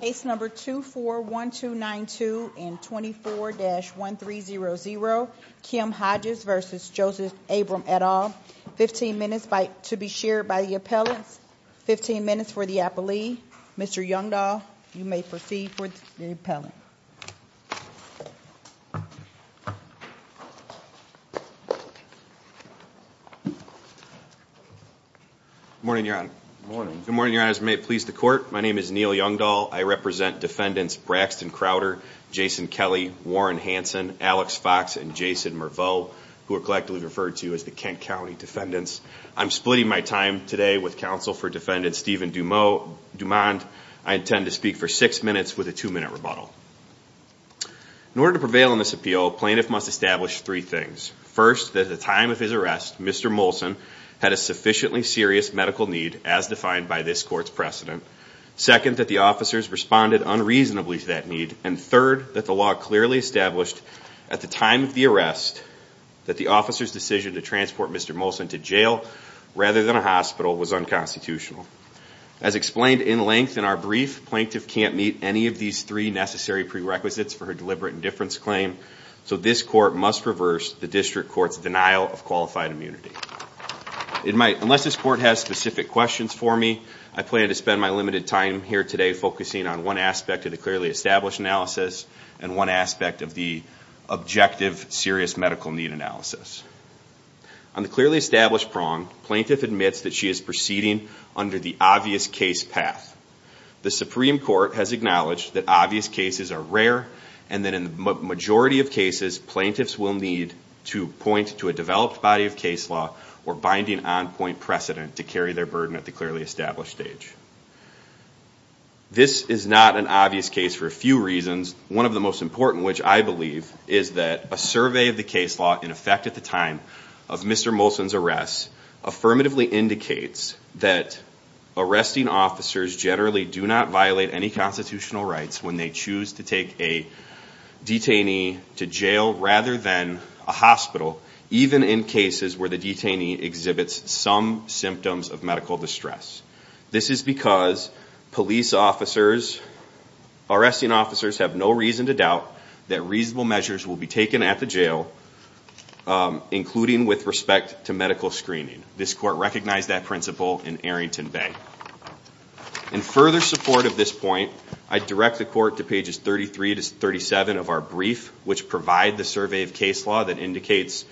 Case number 241292 and 24-1300 Kim Hodges v. Joseph Abram et al. 15 minutes to be shared by the appellants. 15 minutes for the appellee. Mr. Youngdahl, you may proceed for the appellant. Good morning, Your Honor. Good morning. Good morning, Your Honor. As it may please the court, my name is Neil Youngdahl. I represent defendants Braxton Crowder, Jason Kelly, Warren Hanson, Alex Fox, and Jason Merveau, who are collectively referred to as the Kent County defendants. I'm splitting my time today with counsel for defendant Stephen Dumond. I intend to speak for six minutes with a two-minute rebuttal. In order to prevail in this appeal, a plaintiff must establish three things. First, that at the time of his arrest, Mr. Molson had a sufficiently serious medical need as defined by this court's precedent. Second, that the officers responded unreasonably to that need. And third, that the law clearly established at the time of the arrest that the officer's decision to transport Mr. Molson to jail rather than a hospital was unconstitutional. As explained in length in our brief, plaintiff can't meet any of these three necessary prerequisites for her deliberate indifference claim, so this court must reverse the district court's denial of qualified immunity. Unless this court has specific questions for me, I plan to spend my limited time here today focusing on one aspect of the clearly established analysis and one aspect of the objective serious medical need analysis. On the clearly established prong, plaintiff admits that she is proceeding under the obvious case path. The Supreme Court has acknowledged that obvious cases are rare and that in the majority of cases, plaintiffs will need to point to a developed body of case law or binding on-point precedent to carry their burden at the clearly established stage. This is not an obvious case for a few reasons. One of the most important, which I believe, is that a survey of the case law in effect at the time of Mr. Molson's arrest affirmatively indicates that arresting officers generally do not violate any constitutional rights when they choose to take a detainee to jail rather than a hospital, even in cases where the detainee exhibits some symptoms of medical distress. This is because police officers, arresting officers have no reason to doubt that reasonable measures will be taken at the jail, including with respect to medical screening. This court recognized that principle in Arrington Bay. In further support of this point, I direct the court to pages 33 to 37 of our brief, which provide the survey of case law that indicates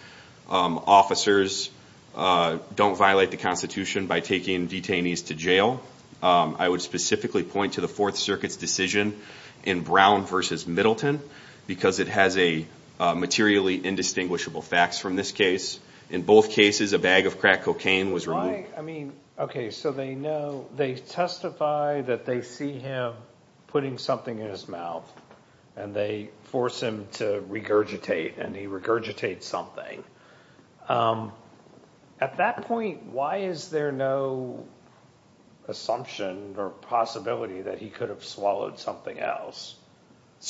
officers don't violate the constitution by taking detainees to jail. I would specifically point to the Fourth Circuit's decision in Brown v. Middleton because it has materially indistinguishable facts from this case. In both cases, a bag of crack cocaine was removed. They testify that they see him putting something in his mouth, and they force him to regurgitate, and he regurgitates something. At that point, why is there no assumption or possibility that he could have swallowed something else?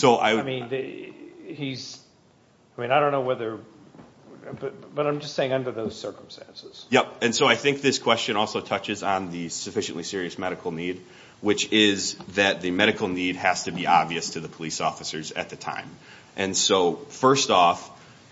I don't know whether – but I'm just saying under those circumstances. Yep, and so I think this question also touches on the sufficiently serious medical need, which is that the medical need has to be obvious to the police officers at the time. And so first off,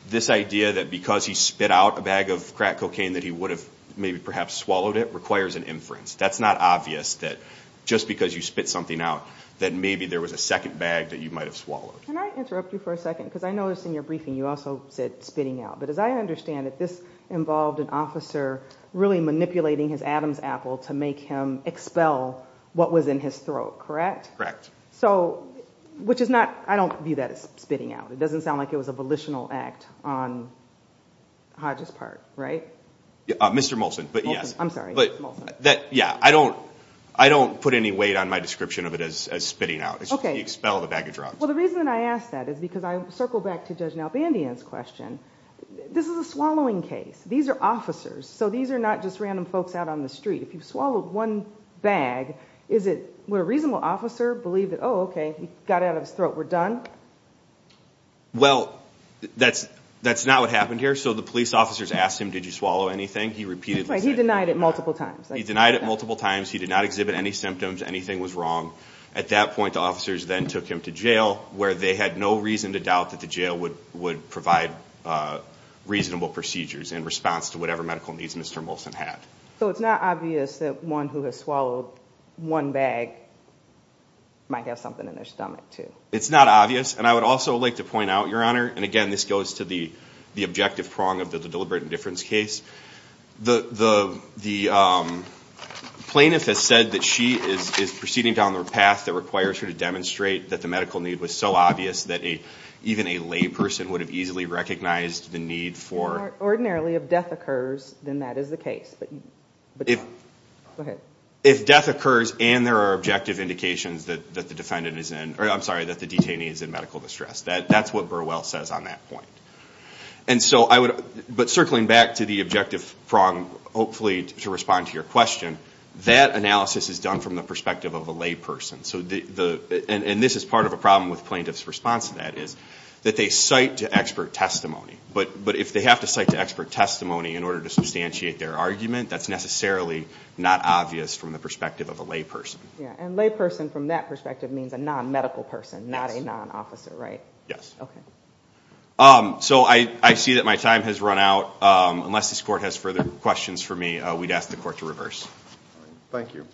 this idea that because he spit out a bag of crack cocaine that he would have maybe perhaps swallowed it requires an inference. That's not obvious that just because you spit something out that maybe there was a second bag that you might have swallowed. Can I interrupt you for a second because I noticed in your briefing you also said spitting out. But as I understand it, this involved an officer really manipulating his Adam's apple to make him expel what was in his throat, correct? So – which is not – I don't view that as spitting out. It doesn't sound like it was a volitional act on Hodge's part, right? Mr. Molson, but yes. Molson, I'm sorry. Yeah, I don't put any weight on my description of it as spitting out. Okay. Well, the reason that I ask that is because I circle back to Judge Nalbandian's question. This is a swallowing case. These are officers. So these are not just random folks out on the street. If you've swallowed one bag, is it – would a reasonable officer believe that, oh, okay, he got it out of his throat, we're done? Well, that's not what happened here. So the police officers asked him, did you swallow anything? He repeatedly said no. He denied it multiple times. He denied it multiple times. He did not exhibit any symptoms. Anything was wrong. At that point, the officers then took him to jail where they had no reason to doubt that the jail would provide reasonable procedures in response to whatever medical needs Mr. Molson had. So it's not obvious that one who has swallowed one bag might have something in their stomach too? It's not obvious. And I would also like to point out, Your Honor, and again this goes to the objective prong of the deliberate indifference case, the plaintiff has said that she is proceeding down the path that requires her to demonstrate that the medical need was so obvious that even a lay person would have easily recognized the need for – Ordinarily, if death occurs, then that is the case. But – go ahead. If death occurs and there are objective indications that the defendant is in – or I'm sorry, that the detainee is in medical distress, that's what Burwell says on that point. And so I would – but circling back to the objective prong, hopefully to respond to your question, that analysis is done from the perspective of a lay person. So the – and this is part of a problem with plaintiff's response to that is that they cite to expert testimony. But if they have to cite to expert testimony in order to substantiate their argument, that's necessarily not obvious from the perspective of a lay person. And lay person from that perspective means a non-medical person, not a non-officer, right? Yes. Okay. So I see that my time has run out. Unless this Court has further questions for me, we'd ask the Court to reverse. Thank you.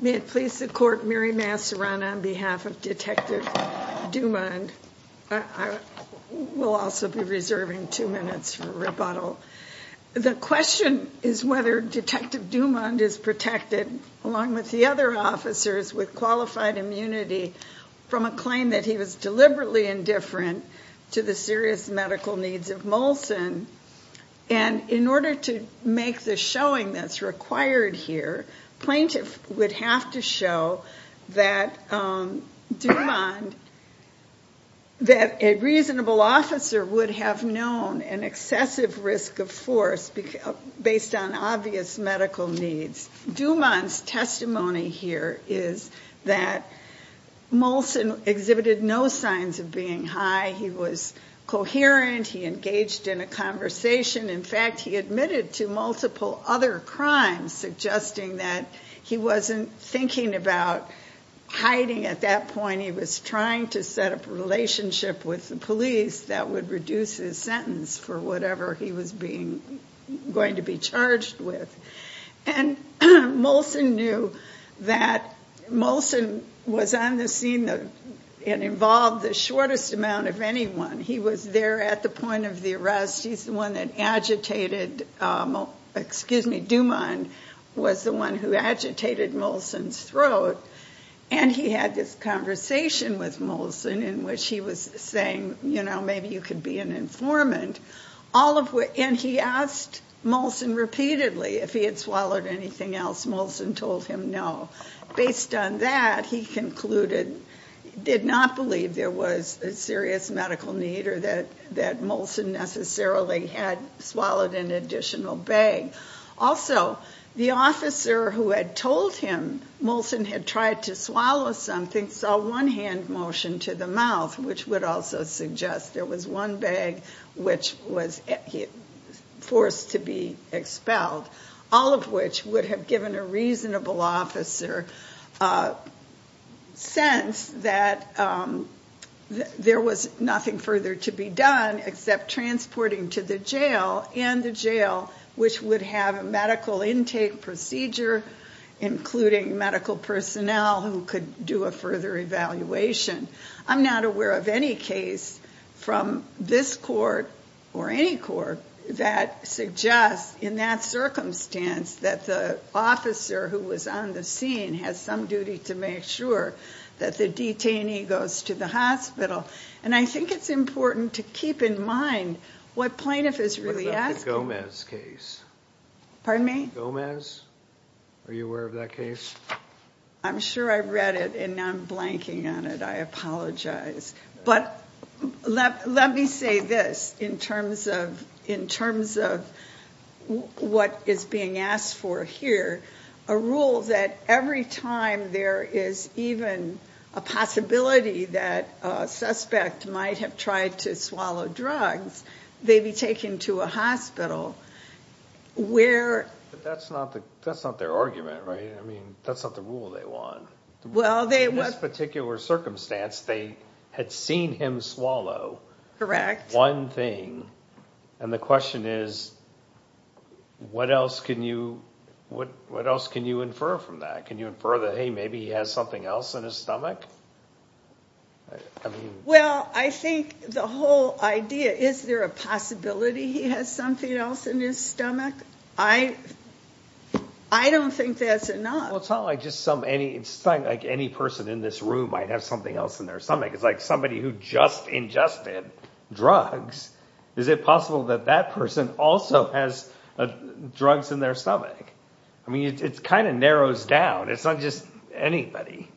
May it please the Court, Mary Massaran on behalf of Detective Dumond. We'll also be reserving two minutes for rebuttal. The question is whether Detective Dumond is protected, along with the other officers, with qualified immunity from a claim that he was deliberately indifferent to the serious medical needs of Molson. And in order to make the showing that's required here, plaintiff would have to show that Dumond – that a reasonable officer would have known an excessive risk of force based on obvious medical needs. Dumond's testimony here is that Molson exhibited no signs of being high. He was coherent. He engaged in a conversation. In fact, he admitted to multiple other crimes, suggesting that he wasn't thinking about hiding. At that point, he was trying to set up a relationship with the police that would reduce his sentence for whatever he was going to be charged with. And Molson knew that Molson was on the scene and involved the shortest amount of anyone. He was there at the point of the arrest. He's the one that agitated – excuse me, Dumond was the one who agitated Molson's throat. And he had this conversation with Molson in which he was saying, you know, maybe you could be an informant. And he asked Molson repeatedly if he had swallowed anything else. Molson told him no. Based on that, he concluded – did not believe there was a serious medical need or that Molson necessarily had swallowed an additional bag. Also, the officer who had told him Molson had tried to swallow something saw one hand motion to the mouth, which would also suggest there was one bag which was forced to be expelled, all of which would have given a reasonable officer sense that there was nothing further to be done except transporting to the jail and the jail, which would have a medical intake procedure, including medical personnel who could do a further evaluation. I'm not aware of any case from this court or any court that suggests in that circumstance that the officer who was on the scene has some duty to make sure that the detainee goes to the hospital. And I think it's important to keep in mind what plaintiff is really asking. What about the Gomez case? Pardon me? Gomez? Are you aware of that case? I'm sure I read it, and now I'm blanking on it. I apologize. But let me say this in terms of what is being asked for here, a rule that every time there is even a possibility that a suspect might have tried to swallow drugs, they'd be taken to a hospital where... But that's not their argument, right? I mean, that's not the rule they want. Well, they... In this particular circumstance, they had seen him swallow... And the question is, what else can you infer from that? Can you infer that, hey, maybe he has something else in his stomach? Well, I think the whole idea, is there a possibility he has something else in his stomach? I don't think that's enough. Well, it's not like any person in this room might have something else in their stomach. It's like somebody who just ingested drugs. Is it possible that that person also has drugs in their stomach? I mean, it kind of narrows down. It's not just anybody.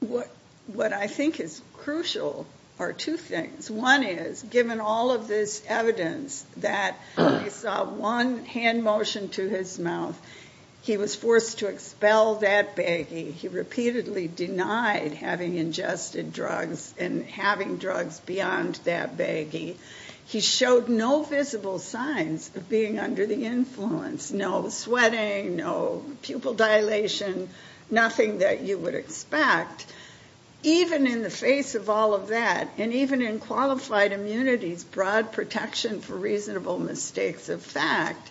What I think is crucial are two things. One is, given all of this evidence that they saw one hand motion to his mouth, he was forced to expel that baggie. He repeatedly denied having ingested drugs and having drugs beyond that baggie. He showed no visible signs of being under the influence. No sweating, no pupil dilation, nothing that you would expect. Even in the face of all of that, and even in qualified immunities, broad protection for reasonable mistakes of fact,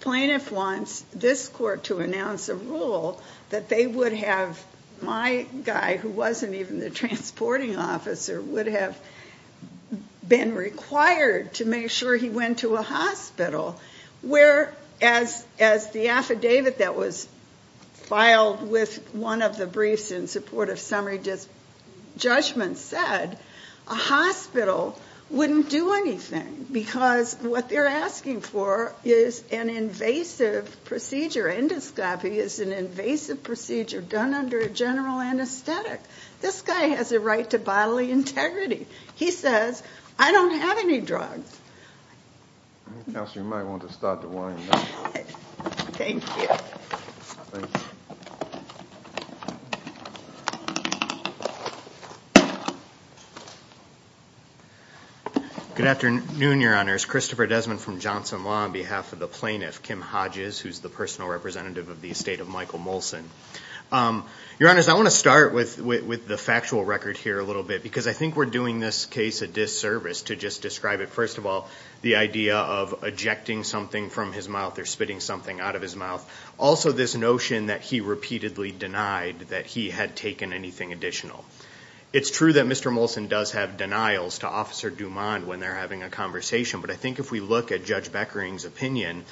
plaintiff wants this court to announce a rule that they would have my guy, who wasn't even the transporting officer, would have been required to make sure he went to a hospital. Whereas, as the affidavit that was filed with one of the briefs in support of summary judgment said, a hospital wouldn't do anything. Because what they're asking for is an invasive procedure. Endoscopy is an invasive procedure done under a general anesthetic. This guy has a right to bodily integrity. He says, I don't have any drugs. Counselor, you might want to start the warning bell. Thank you. Thank you. Good afternoon, Your Honors. Christopher Desmond from Johnson Law on behalf of the plaintiff, Kim Hodges, who's the personal representative of the estate of Michael Molson. Your Honors, I want to start with the factual record here a little bit, because I think we're doing this case a disservice to just describe it. Also, this notion that he repeatedly denied that he had taken anything additional. It's true that Mr. Molson does have denials to Officer Dumond when they're having a conversation, but I think if we look at Judge Beckering's opinion,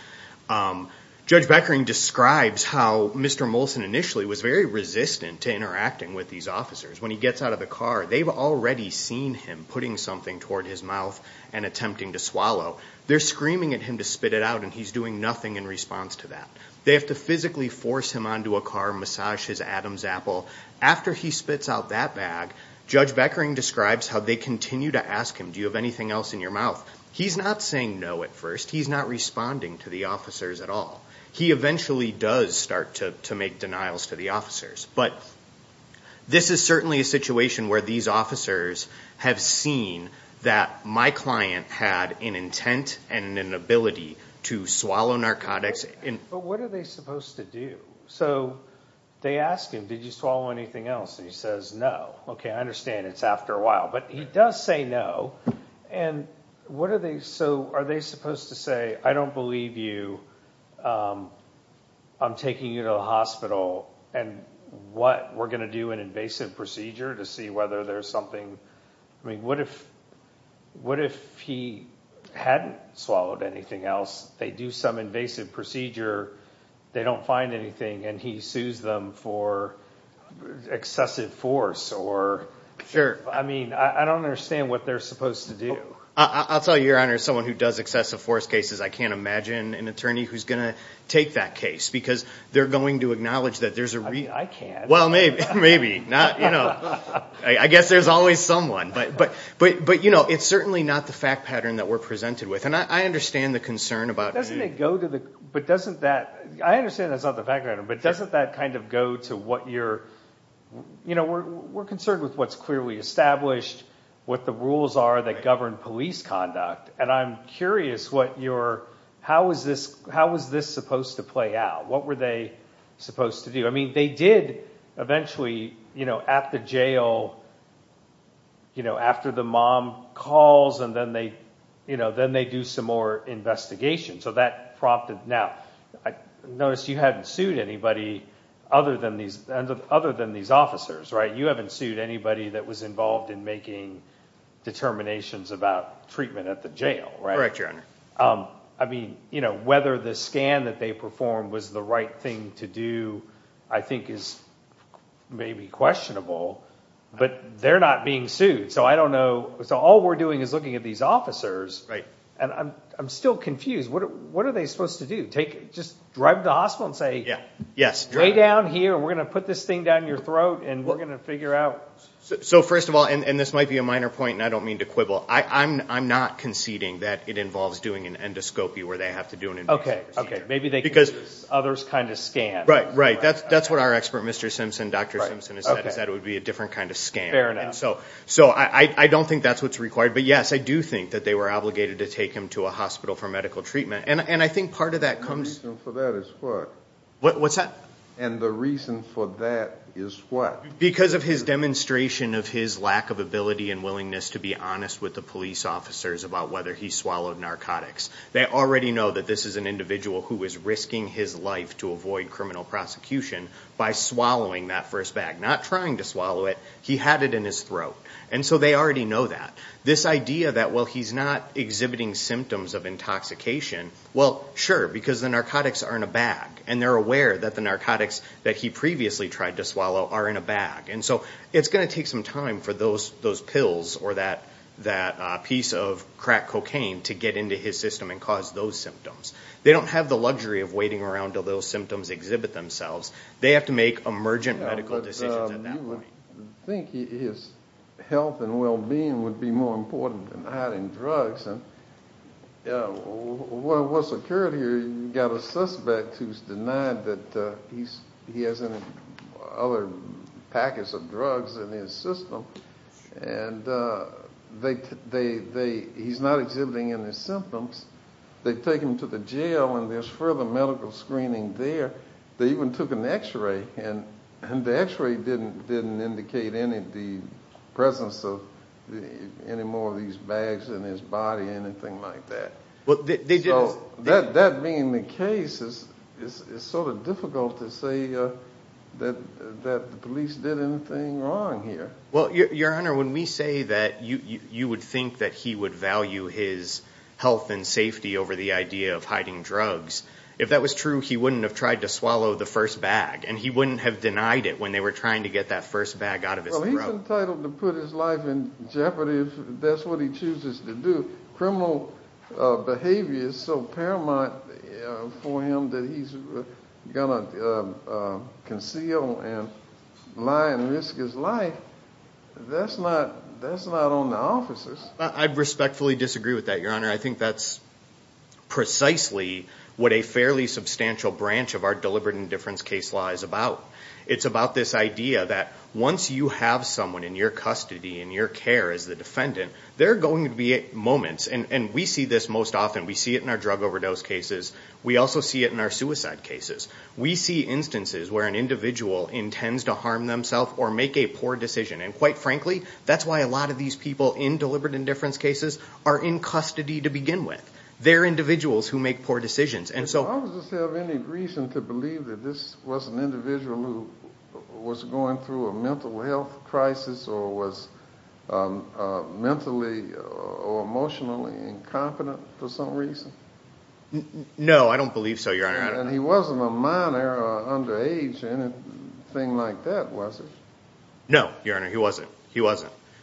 Judge Beckering describes how Mr. Molson initially was very resistant to interacting with these officers. When he gets out of the car, they've already seen him putting something toward his mouth and attempting to swallow. They're screaming at him to spit it out, and he's doing nothing in response to that. They have to physically force him onto a car, massage his Adam's apple. After he spits out that bag, Judge Beckering describes how they continue to ask him, do you have anything else in your mouth? He's not saying no at first. He's not responding to the officers at all. He eventually does start to make denials to the officers, but this is certainly a situation where these officers have seen that my client had an intent and an ability to swallow narcotics. But what are they supposed to do? So they ask him, did you swallow anything else? And he says no. Okay, I understand it's after a while, but he does say no. So are they supposed to say, I don't believe you, I'm taking you to the hospital, and what, we're going to do an invasive procedure to see whether there's something? I mean, what if he hadn't swallowed anything else? They do some invasive procedure, they don't find anything, and he sues them for excessive force? Sure. I mean, I don't understand what they're supposed to do. I'll tell you, Your Honor, someone who does excessive force cases, I can't imagine an attorney who's going to take that case because they're going to acknowledge that there's a reason. I can't. Well, maybe. I guess there's always someone. But, you know, it's certainly not the fact pattern that we're presented with, and I understand the concern about. But doesn't it go to the, but doesn't that, I understand that's not the fact pattern, but doesn't that kind of go to what you're, you know, we're concerned with what's clearly established, what the rules are that govern police conduct, and I'm curious what your, how is this supposed to play out? What were they supposed to do? I mean, they did eventually, you know, at the jail, you know, after the mom calls, and then they, you know, then they do some more investigation. Now, I noticed you hadn't sued anybody other than these officers, right? You haven't sued anybody that was involved in making determinations about treatment at the jail, right? Correct, Your Honor. I mean, you know, whether the scan that they performed was the right thing to do I think is maybe questionable, but they're not being sued, so I don't know. So all we're doing is looking at these officers, and I'm still confused. What are they supposed to do? Just drive them to the hospital and say, lay down here, we're going to put this thing down your throat, and we're going to figure out. So first of all, and this might be a minor point, and I don't mean to quibble, I'm not conceding that it involves doing an endoscopy where they have to do an investigation. Okay, okay. Maybe they can use this other kind of scan. Right, right. That's what our expert, Mr. Simpson, Dr. Simpson, has said, is that it would be a different kind of scan. So I don't think that's what's required. But, yes, I do think that they were obligated to take him to a hospital for medical treatment, and I think part of that comes. And the reason for that is what? What's that? And the reason for that is what? Because of his demonstration of his lack of ability and willingness to be honest with the police officers about whether he swallowed narcotics. They already know that this is an individual who is risking his life to avoid criminal prosecution by swallowing that first bag, not trying to swallow it. He had it in his throat, and so they already know that. This idea that, well, he's not exhibiting symptoms of intoxication, well, sure, because the narcotics are in a bag, and they're aware that the narcotics that he previously tried to swallow are in a bag. And so it's going to take some time for those pills or that piece of crack cocaine to get into his system and cause those symptoms. They don't have the luxury of waiting around until those symptoms exhibit themselves. They have to make emergent medical decisions at that point. I think his health and well-being would be more important than hiding drugs. What's occurred here, you've got a suspect who's denied that he has any other packets of drugs in his system, and he's not exhibiting any symptoms. They take him to the jail, and there's further medical screening there. They even took an x-ray, and the x-ray didn't indicate the presence of any more of these bags in his body, anything like that. So that being the case, it's sort of difficult to say that the police did anything wrong here. Well, Your Honor, when we say that you would think that he would value his health and safety over the idea of hiding drugs, if that was true, he wouldn't have tried to swallow the first bag, and he wouldn't have denied it when they were trying to get that first bag out of his throat. Well, he's entitled to put his life in jeopardy if that's what he chooses to do. Criminal behavior is so paramount for him that he's going to conceal and lie and risk his life. That's not on the officers. I respectfully disagree with that, Your Honor. I think that's precisely what a fairly substantial branch of our deliberate indifference case law is about. It's about this idea that once you have someone in your custody, in your care as the defendant, there are going to be moments, and we see this most often. We see it in our drug overdose cases. We also see it in our suicide cases. We see instances where an individual intends to harm themselves or make a poor decision, and quite frankly, that's why a lot of these people in deliberate indifference cases are in custody to begin with. They're individuals who make poor decisions. Does the officer have any reason to believe that this was an individual who was going through a mental health crisis or was mentally or emotionally incompetent for some reason? No, I don't believe so, Your Honor. And he wasn't a minor or underage or anything like that, was he? No, Your Honor, he wasn't.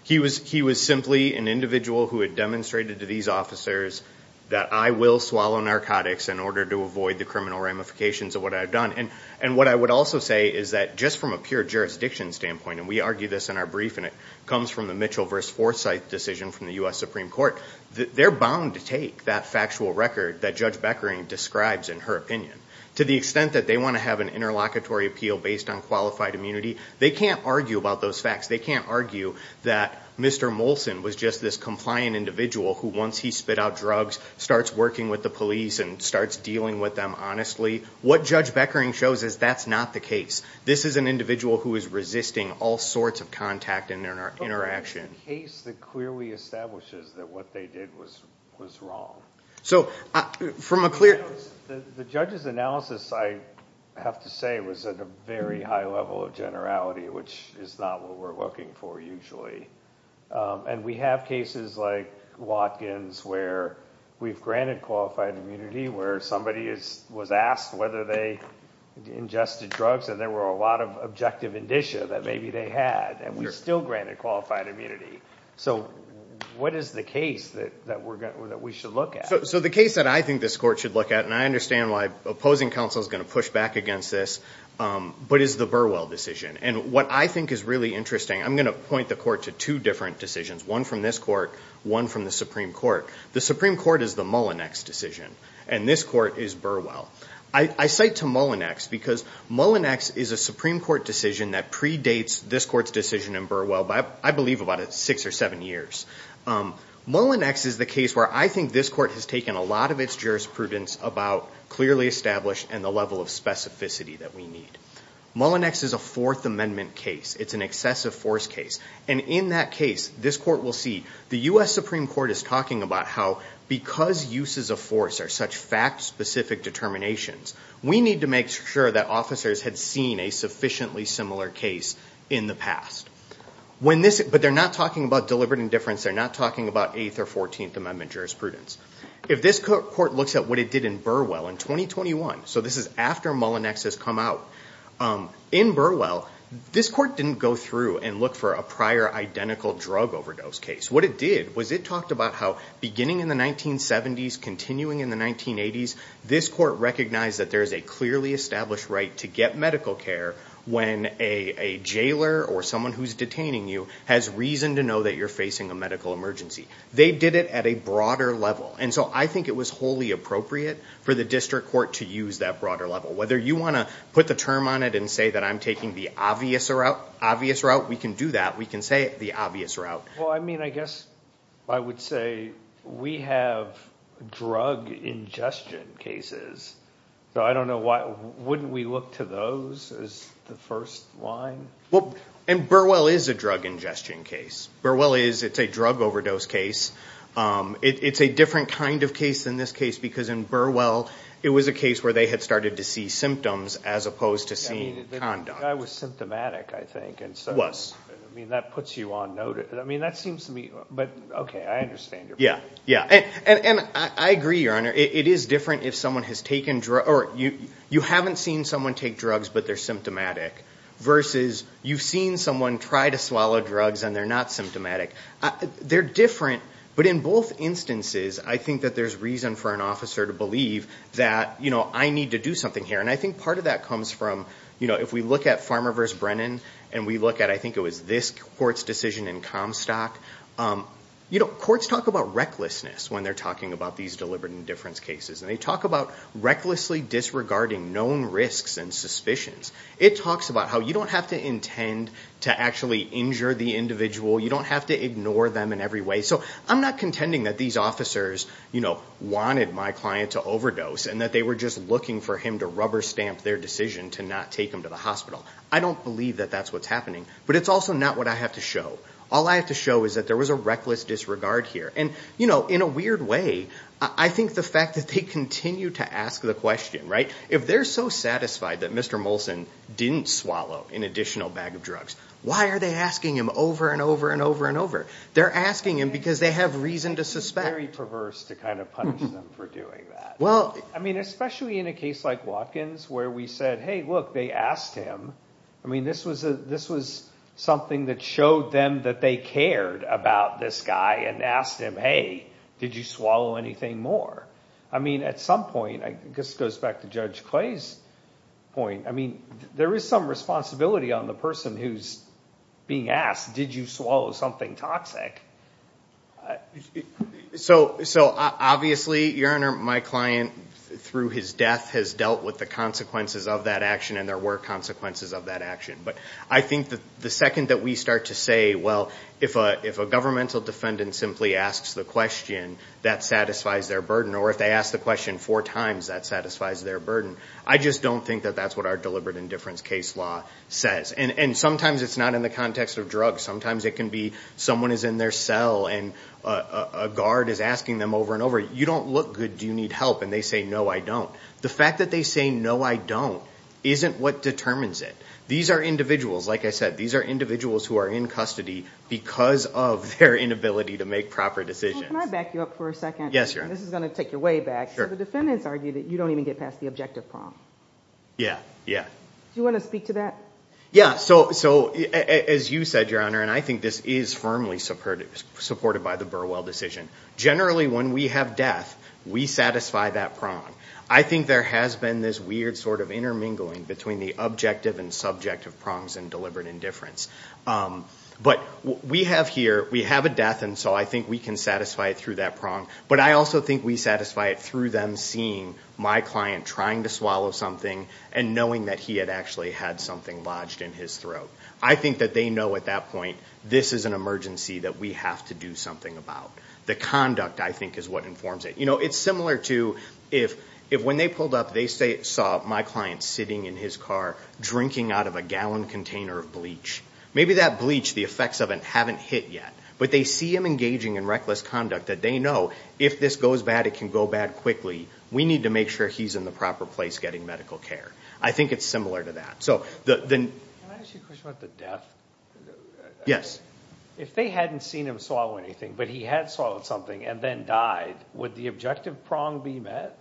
He was simply an individual who had demonstrated to these officers that I will swallow narcotics in order to avoid the criminal ramifications of what I've done. And what I would also say is that just from a pure jurisdiction standpoint, and we argue this in our brief and it comes from the Mitchell v. Forsythe decision from the U.S. Supreme Court, they're bound to take that factual record that Judge Beckering describes in her opinion. To the extent that they want to have an interlocutory appeal based on qualified immunity, they can't argue about those facts. They can't argue that Mr. Molson was just this compliant individual who, once he spit out drugs, starts working with the police and starts dealing with them honestly. What Judge Beckering shows is that's not the case. This is an individual who is resisting all sorts of contact and interaction. But there's a case that clearly establishes that what they did was wrong. So from a clear... The judge's analysis, I have to say, was at a very high level of generality, which is not what we're looking for usually. And we have cases like Watkins where we've granted qualified immunity, where somebody was asked whether they ingested drugs and there were a lot of objective indicia that maybe they had, and we still granted qualified immunity. So what is the case that we should look at? So the case that I think this court should look at, and I understand why opposing counsel is going to push back against this, but is the Burwell decision. And what I think is really interesting, I'm going to point the court to two different decisions, one from this court, one from the Supreme Court. The Supreme Court is the Mullinex decision, and this court is Burwell. I cite to Mullinex because Mullinex is a Supreme Court decision that predates this court's decision in Burwell by, I believe, about six or seven years. Mullinex is the case where I think this court has taken a lot of its jurisprudence about clearly established and the level of specificity that we need. Mullinex is a Fourth Amendment case. It's an excessive force case. And in that case, this court will see the U.S. Supreme Court is talking about how, because uses of force are such fact-specific determinations, we need to make sure that officers had seen a sufficiently similar case in the past. But they're not talking about deliberate indifference. They're not talking about Eighth or Fourteenth Amendment jurisprudence. If this court looks at what it did in Burwell in 2021, so this is after Mullinex has come out, in Burwell, this court didn't go through and look for a prior identical drug overdose case. What it did was it talked about how, beginning in the 1970s, continuing in the 1980s, this court recognized that there's a clearly established right to get medical care when a jailer or someone who's detaining you has reason to know that you're facing a medical emergency. They did it at a broader level. And so I think it was wholly appropriate for the district court to use that broader level. Whether you want to put the term on it and say that I'm taking the obvious route, we can do that. We can say the obvious route. Well, I mean, I guess I would say we have drug ingestion cases. So I don't know why. Wouldn't we look to those as the first line? Well, and Burwell is a drug ingestion case. Burwell is. It's a drug overdose case. It's a different kind of case than this case because in Burwell, it was a case where they had started to see symptoms as opposed to seeing conduct. The guy was symptomatic, I think. He was. I mean, that puts you on note. I mean, that seems to me. But, okay, I understand your point. Yeah, yeah. And I agree, Your Honor. It is different if someone has taken drugs. You haven't seen someone take drugs but they're symptomatic versus you've seen someone try to swallow drugs and they're not symptomatic. They're different. But in both instances, I think that there's reason for an officer to believe that, you know, I need to do something here. And I think part of that comes from, you know, if we look at Farmer versus Brennan and we look at, I think it was this court's decision in Comstock, you know, courts talk about recklessness when they're talking about these deliberate indifference cases. And they talk about recklessly disregarding known risks and suspicions. It talks about how you don't have to intend to actually injure the individual. You don't have to ignore them in every way. So I'm not contending that these officers, you know, wanted my client to overdose and that they were just looking for him to rubber stamp their decision to not take him to the hospital. I don't believe that that's what's happening. But it's also not what I have to show. All I have to show is that there was a reckless disregard here. And, you know, in a weird way, I think the fact that they continue to ask the question, right? If they're so satisfied that Mr. Molson didn't swallow an additional bag of drugs, why are they asking him over and over and over and over? They're asking him because they have reason to suspect. It's very perverse to kind of punish them for doing that. I mean, especially in a case like Watkins where we said, hey, look, they asked him. I mean, this was something that showed them that they cared about this guy and asked him, hey, did you swallow anything more? I mean, at some point, I guess it goes back to Judge Clay's point. I mean, there is some responsibility on the person who's being asked, did you swallow something toxic? So obviously, Your Honor, my client through his death has dealt with the consequences of that action, and there were consequences of that action. But I think the second that we start to say, well, if a governmental defendant simply asks the question, that satisfies their burden, or if they ask the question four times, that satisfies their burden. I just don't think that that's what our deliberate indifference case law says. And sometimes it's not in the context of drugs. Sometimes it can be someone is in their cell and a guard is asking them over and over, you don't look good, do you need help? And they say, no, I don't. The fact that they say, no, I don't, isn't what determines it. These are individuals, like I said, these are individuals who are in custody because of their inability to make proper decisions. Can I back you up for a second? Yes, Your Honor. This is going to take you way back. The defendants argue that you don't even get past the objective prompt. Yeah, yeah. Do you want to speak to that? Yeah. So as you said, Your Honor, and I think this is firmly supported by the Burwell decision, generally when we have death, we satisfy that prompt. I think there has been this weird sort of intermingling between the objective and subjective prompts in deliberate indifference. But we have here, we have a death, and so I think we can satisfy it through that prompt. But I also think we satisfy it through them seeing my client trying to swallow something and knowing that he had actually had something lodged in his throat. I think that they know at that point this is an emergency that we have to do something about. The conduct, I think, is what informs it. You know, it's similar to if when they pulled up they saw my client sitting in his car drinking out of a gallon container of bleach. Maybe that bleach, the effects of it haven't hit yet. But they see him engaging in reckless conduct that they know if this goes bad, it can go bad quickly. We need to make sure he's in the proper place getting medical care. I think it's similar to that. Can I ask you a question about the death? Yes. If they hadn't seen him swallow anything but he had swallowed something and then died, would the objective prong be met?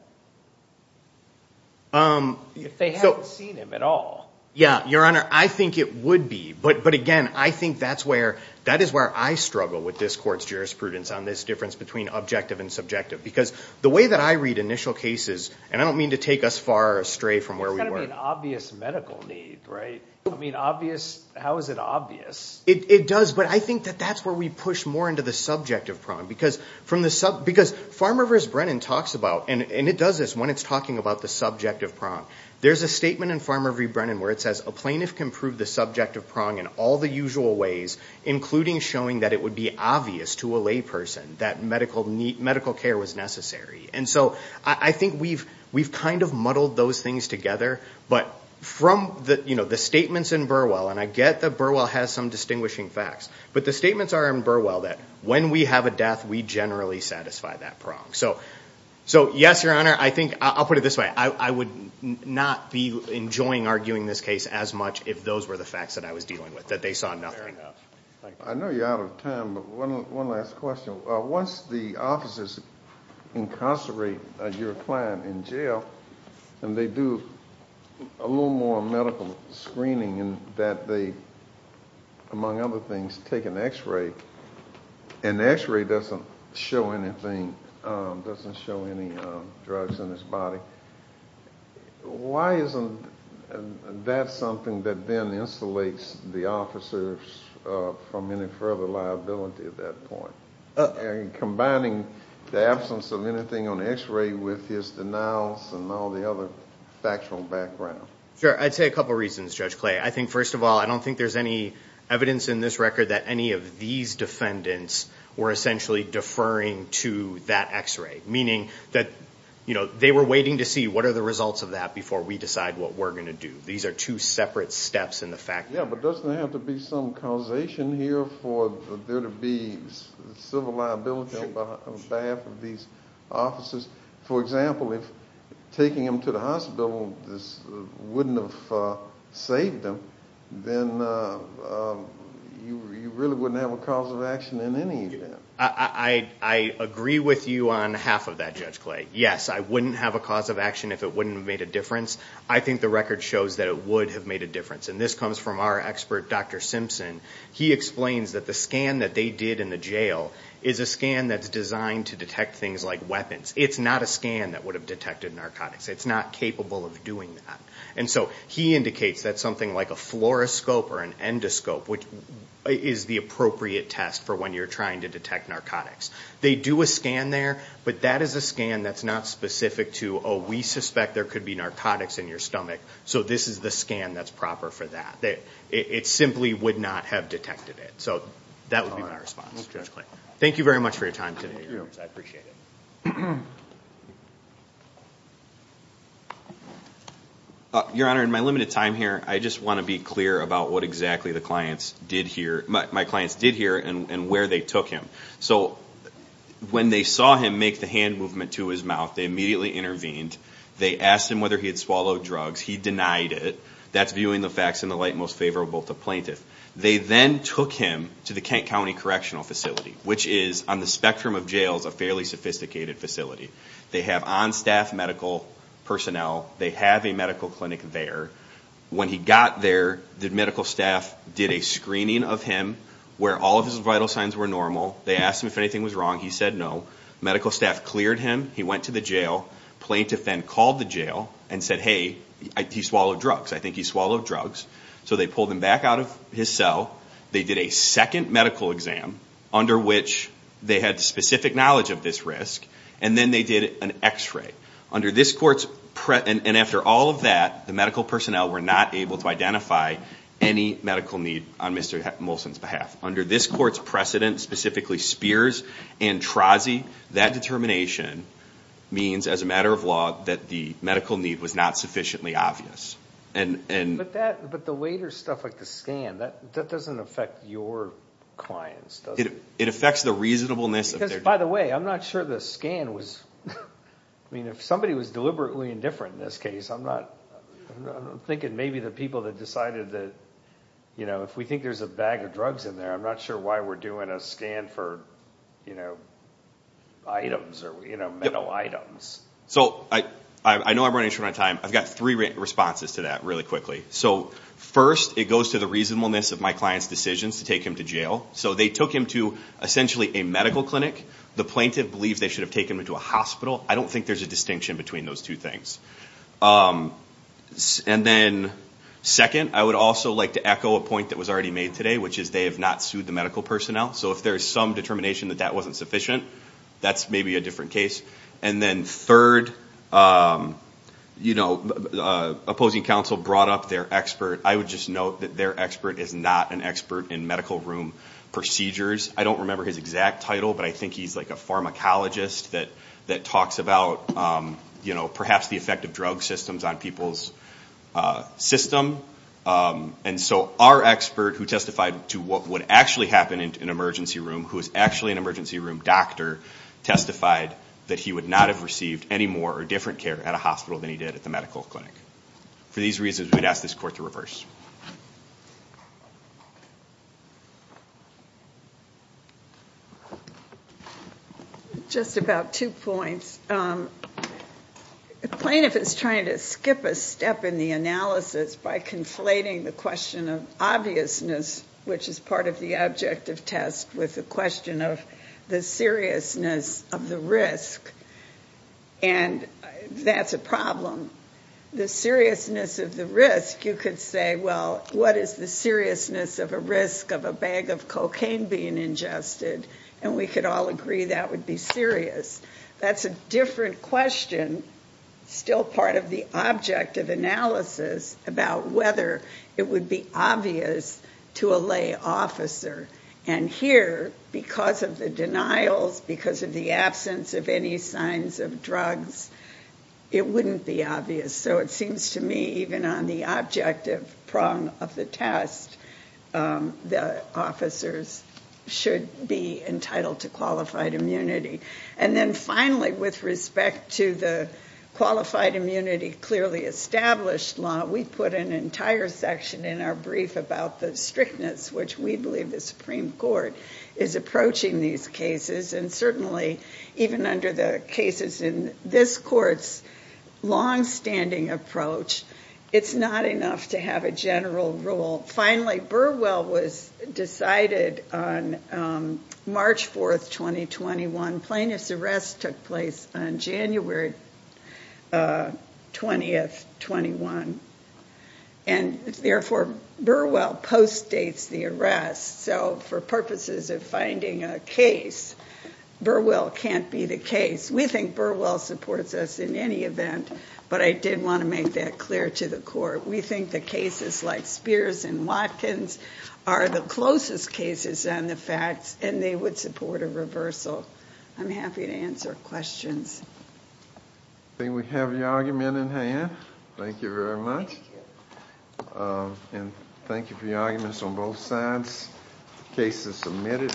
If they hadn't seen him at all. Yeah, Your Honor, I think it would be. But, again, I think that is where I struggle with this court's jurisprudence on this difference between objective and subjective. Because the way that I read initial cases, and I don't mean to take us far astray from where we were. It's got to be an obvious medical need, right? I mean, obvious, how is it obvious? It does, but I think that that's where we push more into the subjective prong. Because Farmer v. Brennan talks about, and it does this when it's talking about the subjective prong, there's a statement in Farmer v. Brennan where it says, a plaintiff can prove the subjective prong in all the usual ways, including showing that it would be obvious to a layperson that medical care was necessary. And so I think we've kind of muddled those things together. But from the statements in Burwell, and I get that Burwell has some distinguishing facts, but the statements are in Burwell that when we have a death, we generally satisfy that prong. So, yes, Your Honor, I think, I'll put it this way. I would not be enjoying arguing this case as much if those were the facts that I was dealing with, that they saw nothing. I know you're out of time, but one last question. Once the officers incarcerate your client in jail and they do a little more medical screening and that they, among other things, take an X-ray, and the X-ray doesn't show anything, doesn't show any drugs in his body, why isn't that something that then insulates the officers from any further liability at that point? Combining the absence of anything on the X-ray with his denials and all the other factual background. Sure, I'd say a couple reasons, Judge Clay. I think, first of all, I don't think there's any evidence in this record that any of these defendants were essentially deferring to that X-ray, meaning that they were waiting to see what are the results of that before we decide what we're going to do. These are two separate steps in the fact. Yeah, but doesn't there have to be some causation here for there to be civil liability on behalf of these officers? For example, if taking them to the hospital wouldn't have saved them, then you really wouldn't have a cause of action in any event. I agree with you on half of that, Judge Clay. Yes, I wouldn't have a cause of action if it wouldn't have made a difference. I think the record shows that it would have made a difference, and this comes from our expert, Dr. Simpson. He explains that the scan that they did in the jail is a scan that's designed to detect things like weapons. It's not a scan that would have detected narcotics. It's not capable of doing that. And so he indicates that something like a fluoroscope or an endoscope, which is the appropriate test for when you're trying to detect narcotics, they do a scan there, but that is a scan that's not specific to, oh, we suspect there could be narcotics in your stomach, so this is the scan that's proper for that. It simply would not have detected it. So that would be my response. Thank you very much for your time today. Thank you. I appreciate it. Your Honor, in my limited time here, I just want to be clear about what exactly my clients did hear and where they took him. So when they saw him make the hand movement to his mouth, they immediately intervened. They asked him whether he had swallowed drugs. He denied it. That's viewing the facts in the light most favorable to plaintiff. They then took him to the Kent County Correctional Facility, which is on the spectrum of jails a fairly sophisticated facility. They have on-staff medical personnel. They have a medical clinic there. When he got there, the medical staff did a screening of him where all of his vital signs were normal. They asked him if anything was wrong. He said no. Medical staff cleared him. He went to the jail. Plaintiff then called the jail and said, hey, he swallowed drugs. I think he swallowed drugs. So they pulled him back out of his cell. They did a second medical exam under which they had specific knowledge of this risk, and then they did an x-ray. Under this court's precedent, and after all of that, the medical personnel were not able to identify any medical need on Mr. Molson's behalf. Under this court's precedent, specifically Spears and Trozzi, that determination means as a matter of law that the medical need was not sufficiently obvious. But the later stuff like the scan, that doesn't affect your clients, does it? It affects the reasonableness. Because, by the way, I'm not sure the scan was, I mean, if somebody was deliberately indifferent in this case, I'm not, I'm thinking maybe the people that decided that, you know, if we think there's a bag of drugs in there, I'm not sure why we're doing a scan for, you know, items or, you know, metal items. So I know I'm running short on time. I've got three responses to that really quickly. So first, it goes to the reasonableness of my client's decisions to take him to jail. So they took him to essentially a medical clinic. The plaintiff believes they should have taken him to a hospital. I don't think there's a distinction between those two things. And then second, I would also like to echo a point that was already made today, which is they have not sued the medical personnel. So if there's some determination that that wasn't sufficient, that's maybe a different case. And then third, you know, opposing counsel brought up their expert. I would just note that their expert is not an expert in medical room procedures. I don't remember his exact title, but I think he's like a pharmacologist that talks about, you know, perhaps the effect of drug systems on people's system. And so our expert who testified to what would actually happen in an emergency room, who is actually an emergency room doctor, testified that he would not have received any more or different care at a hospital than he did at the medical clinic. For these reasons, we would ask this court to reverse. Just about two points. The plaintiff is trying to skip a step in the analysis by conflating the question of obviousness, which is part of the objective test, with the question of the seriousness of the risk. And that's a problem. The seriousness of the risk, you could say, well, what is the seriousness of a risk of a bag of cocaine being ingested? And we could all agree that would be serious. That's a different question, still part of the objective analysis, about whether it would be obvious to a lay officer. And here, because of the denials, because of the absence of any signs of drugs, it wouldn't be obvious. So it seems to me even on the objective prong of the test, the officers should be entitled to qualified immunity. And then finally, with respect to the qualified immunity clearly established law, we put an entire section in our brief about the strictness, which we believe the Supreme Court is approaching these cases. And certainly, even under the cases in this court's longstanding approach, it's not enough to have a general rule. Finally, Burwell was decided on March 4th, 2021. Plaintiff's arrest took place on January 20th, 21. And therefore, Burwell postdates the arrest. So for purposes of finding a case, Burwell can't be the case. We think Burwell supports us in any event. But I did want to make that clear to the court. We think the cases like Spears and Watkins are the closest cases on the facts, and they would support a reversal. I'm happy to answer questions. I think we have your argument in hand. Thank you very much. And thank you for your arguments on both sides. The case is submitted.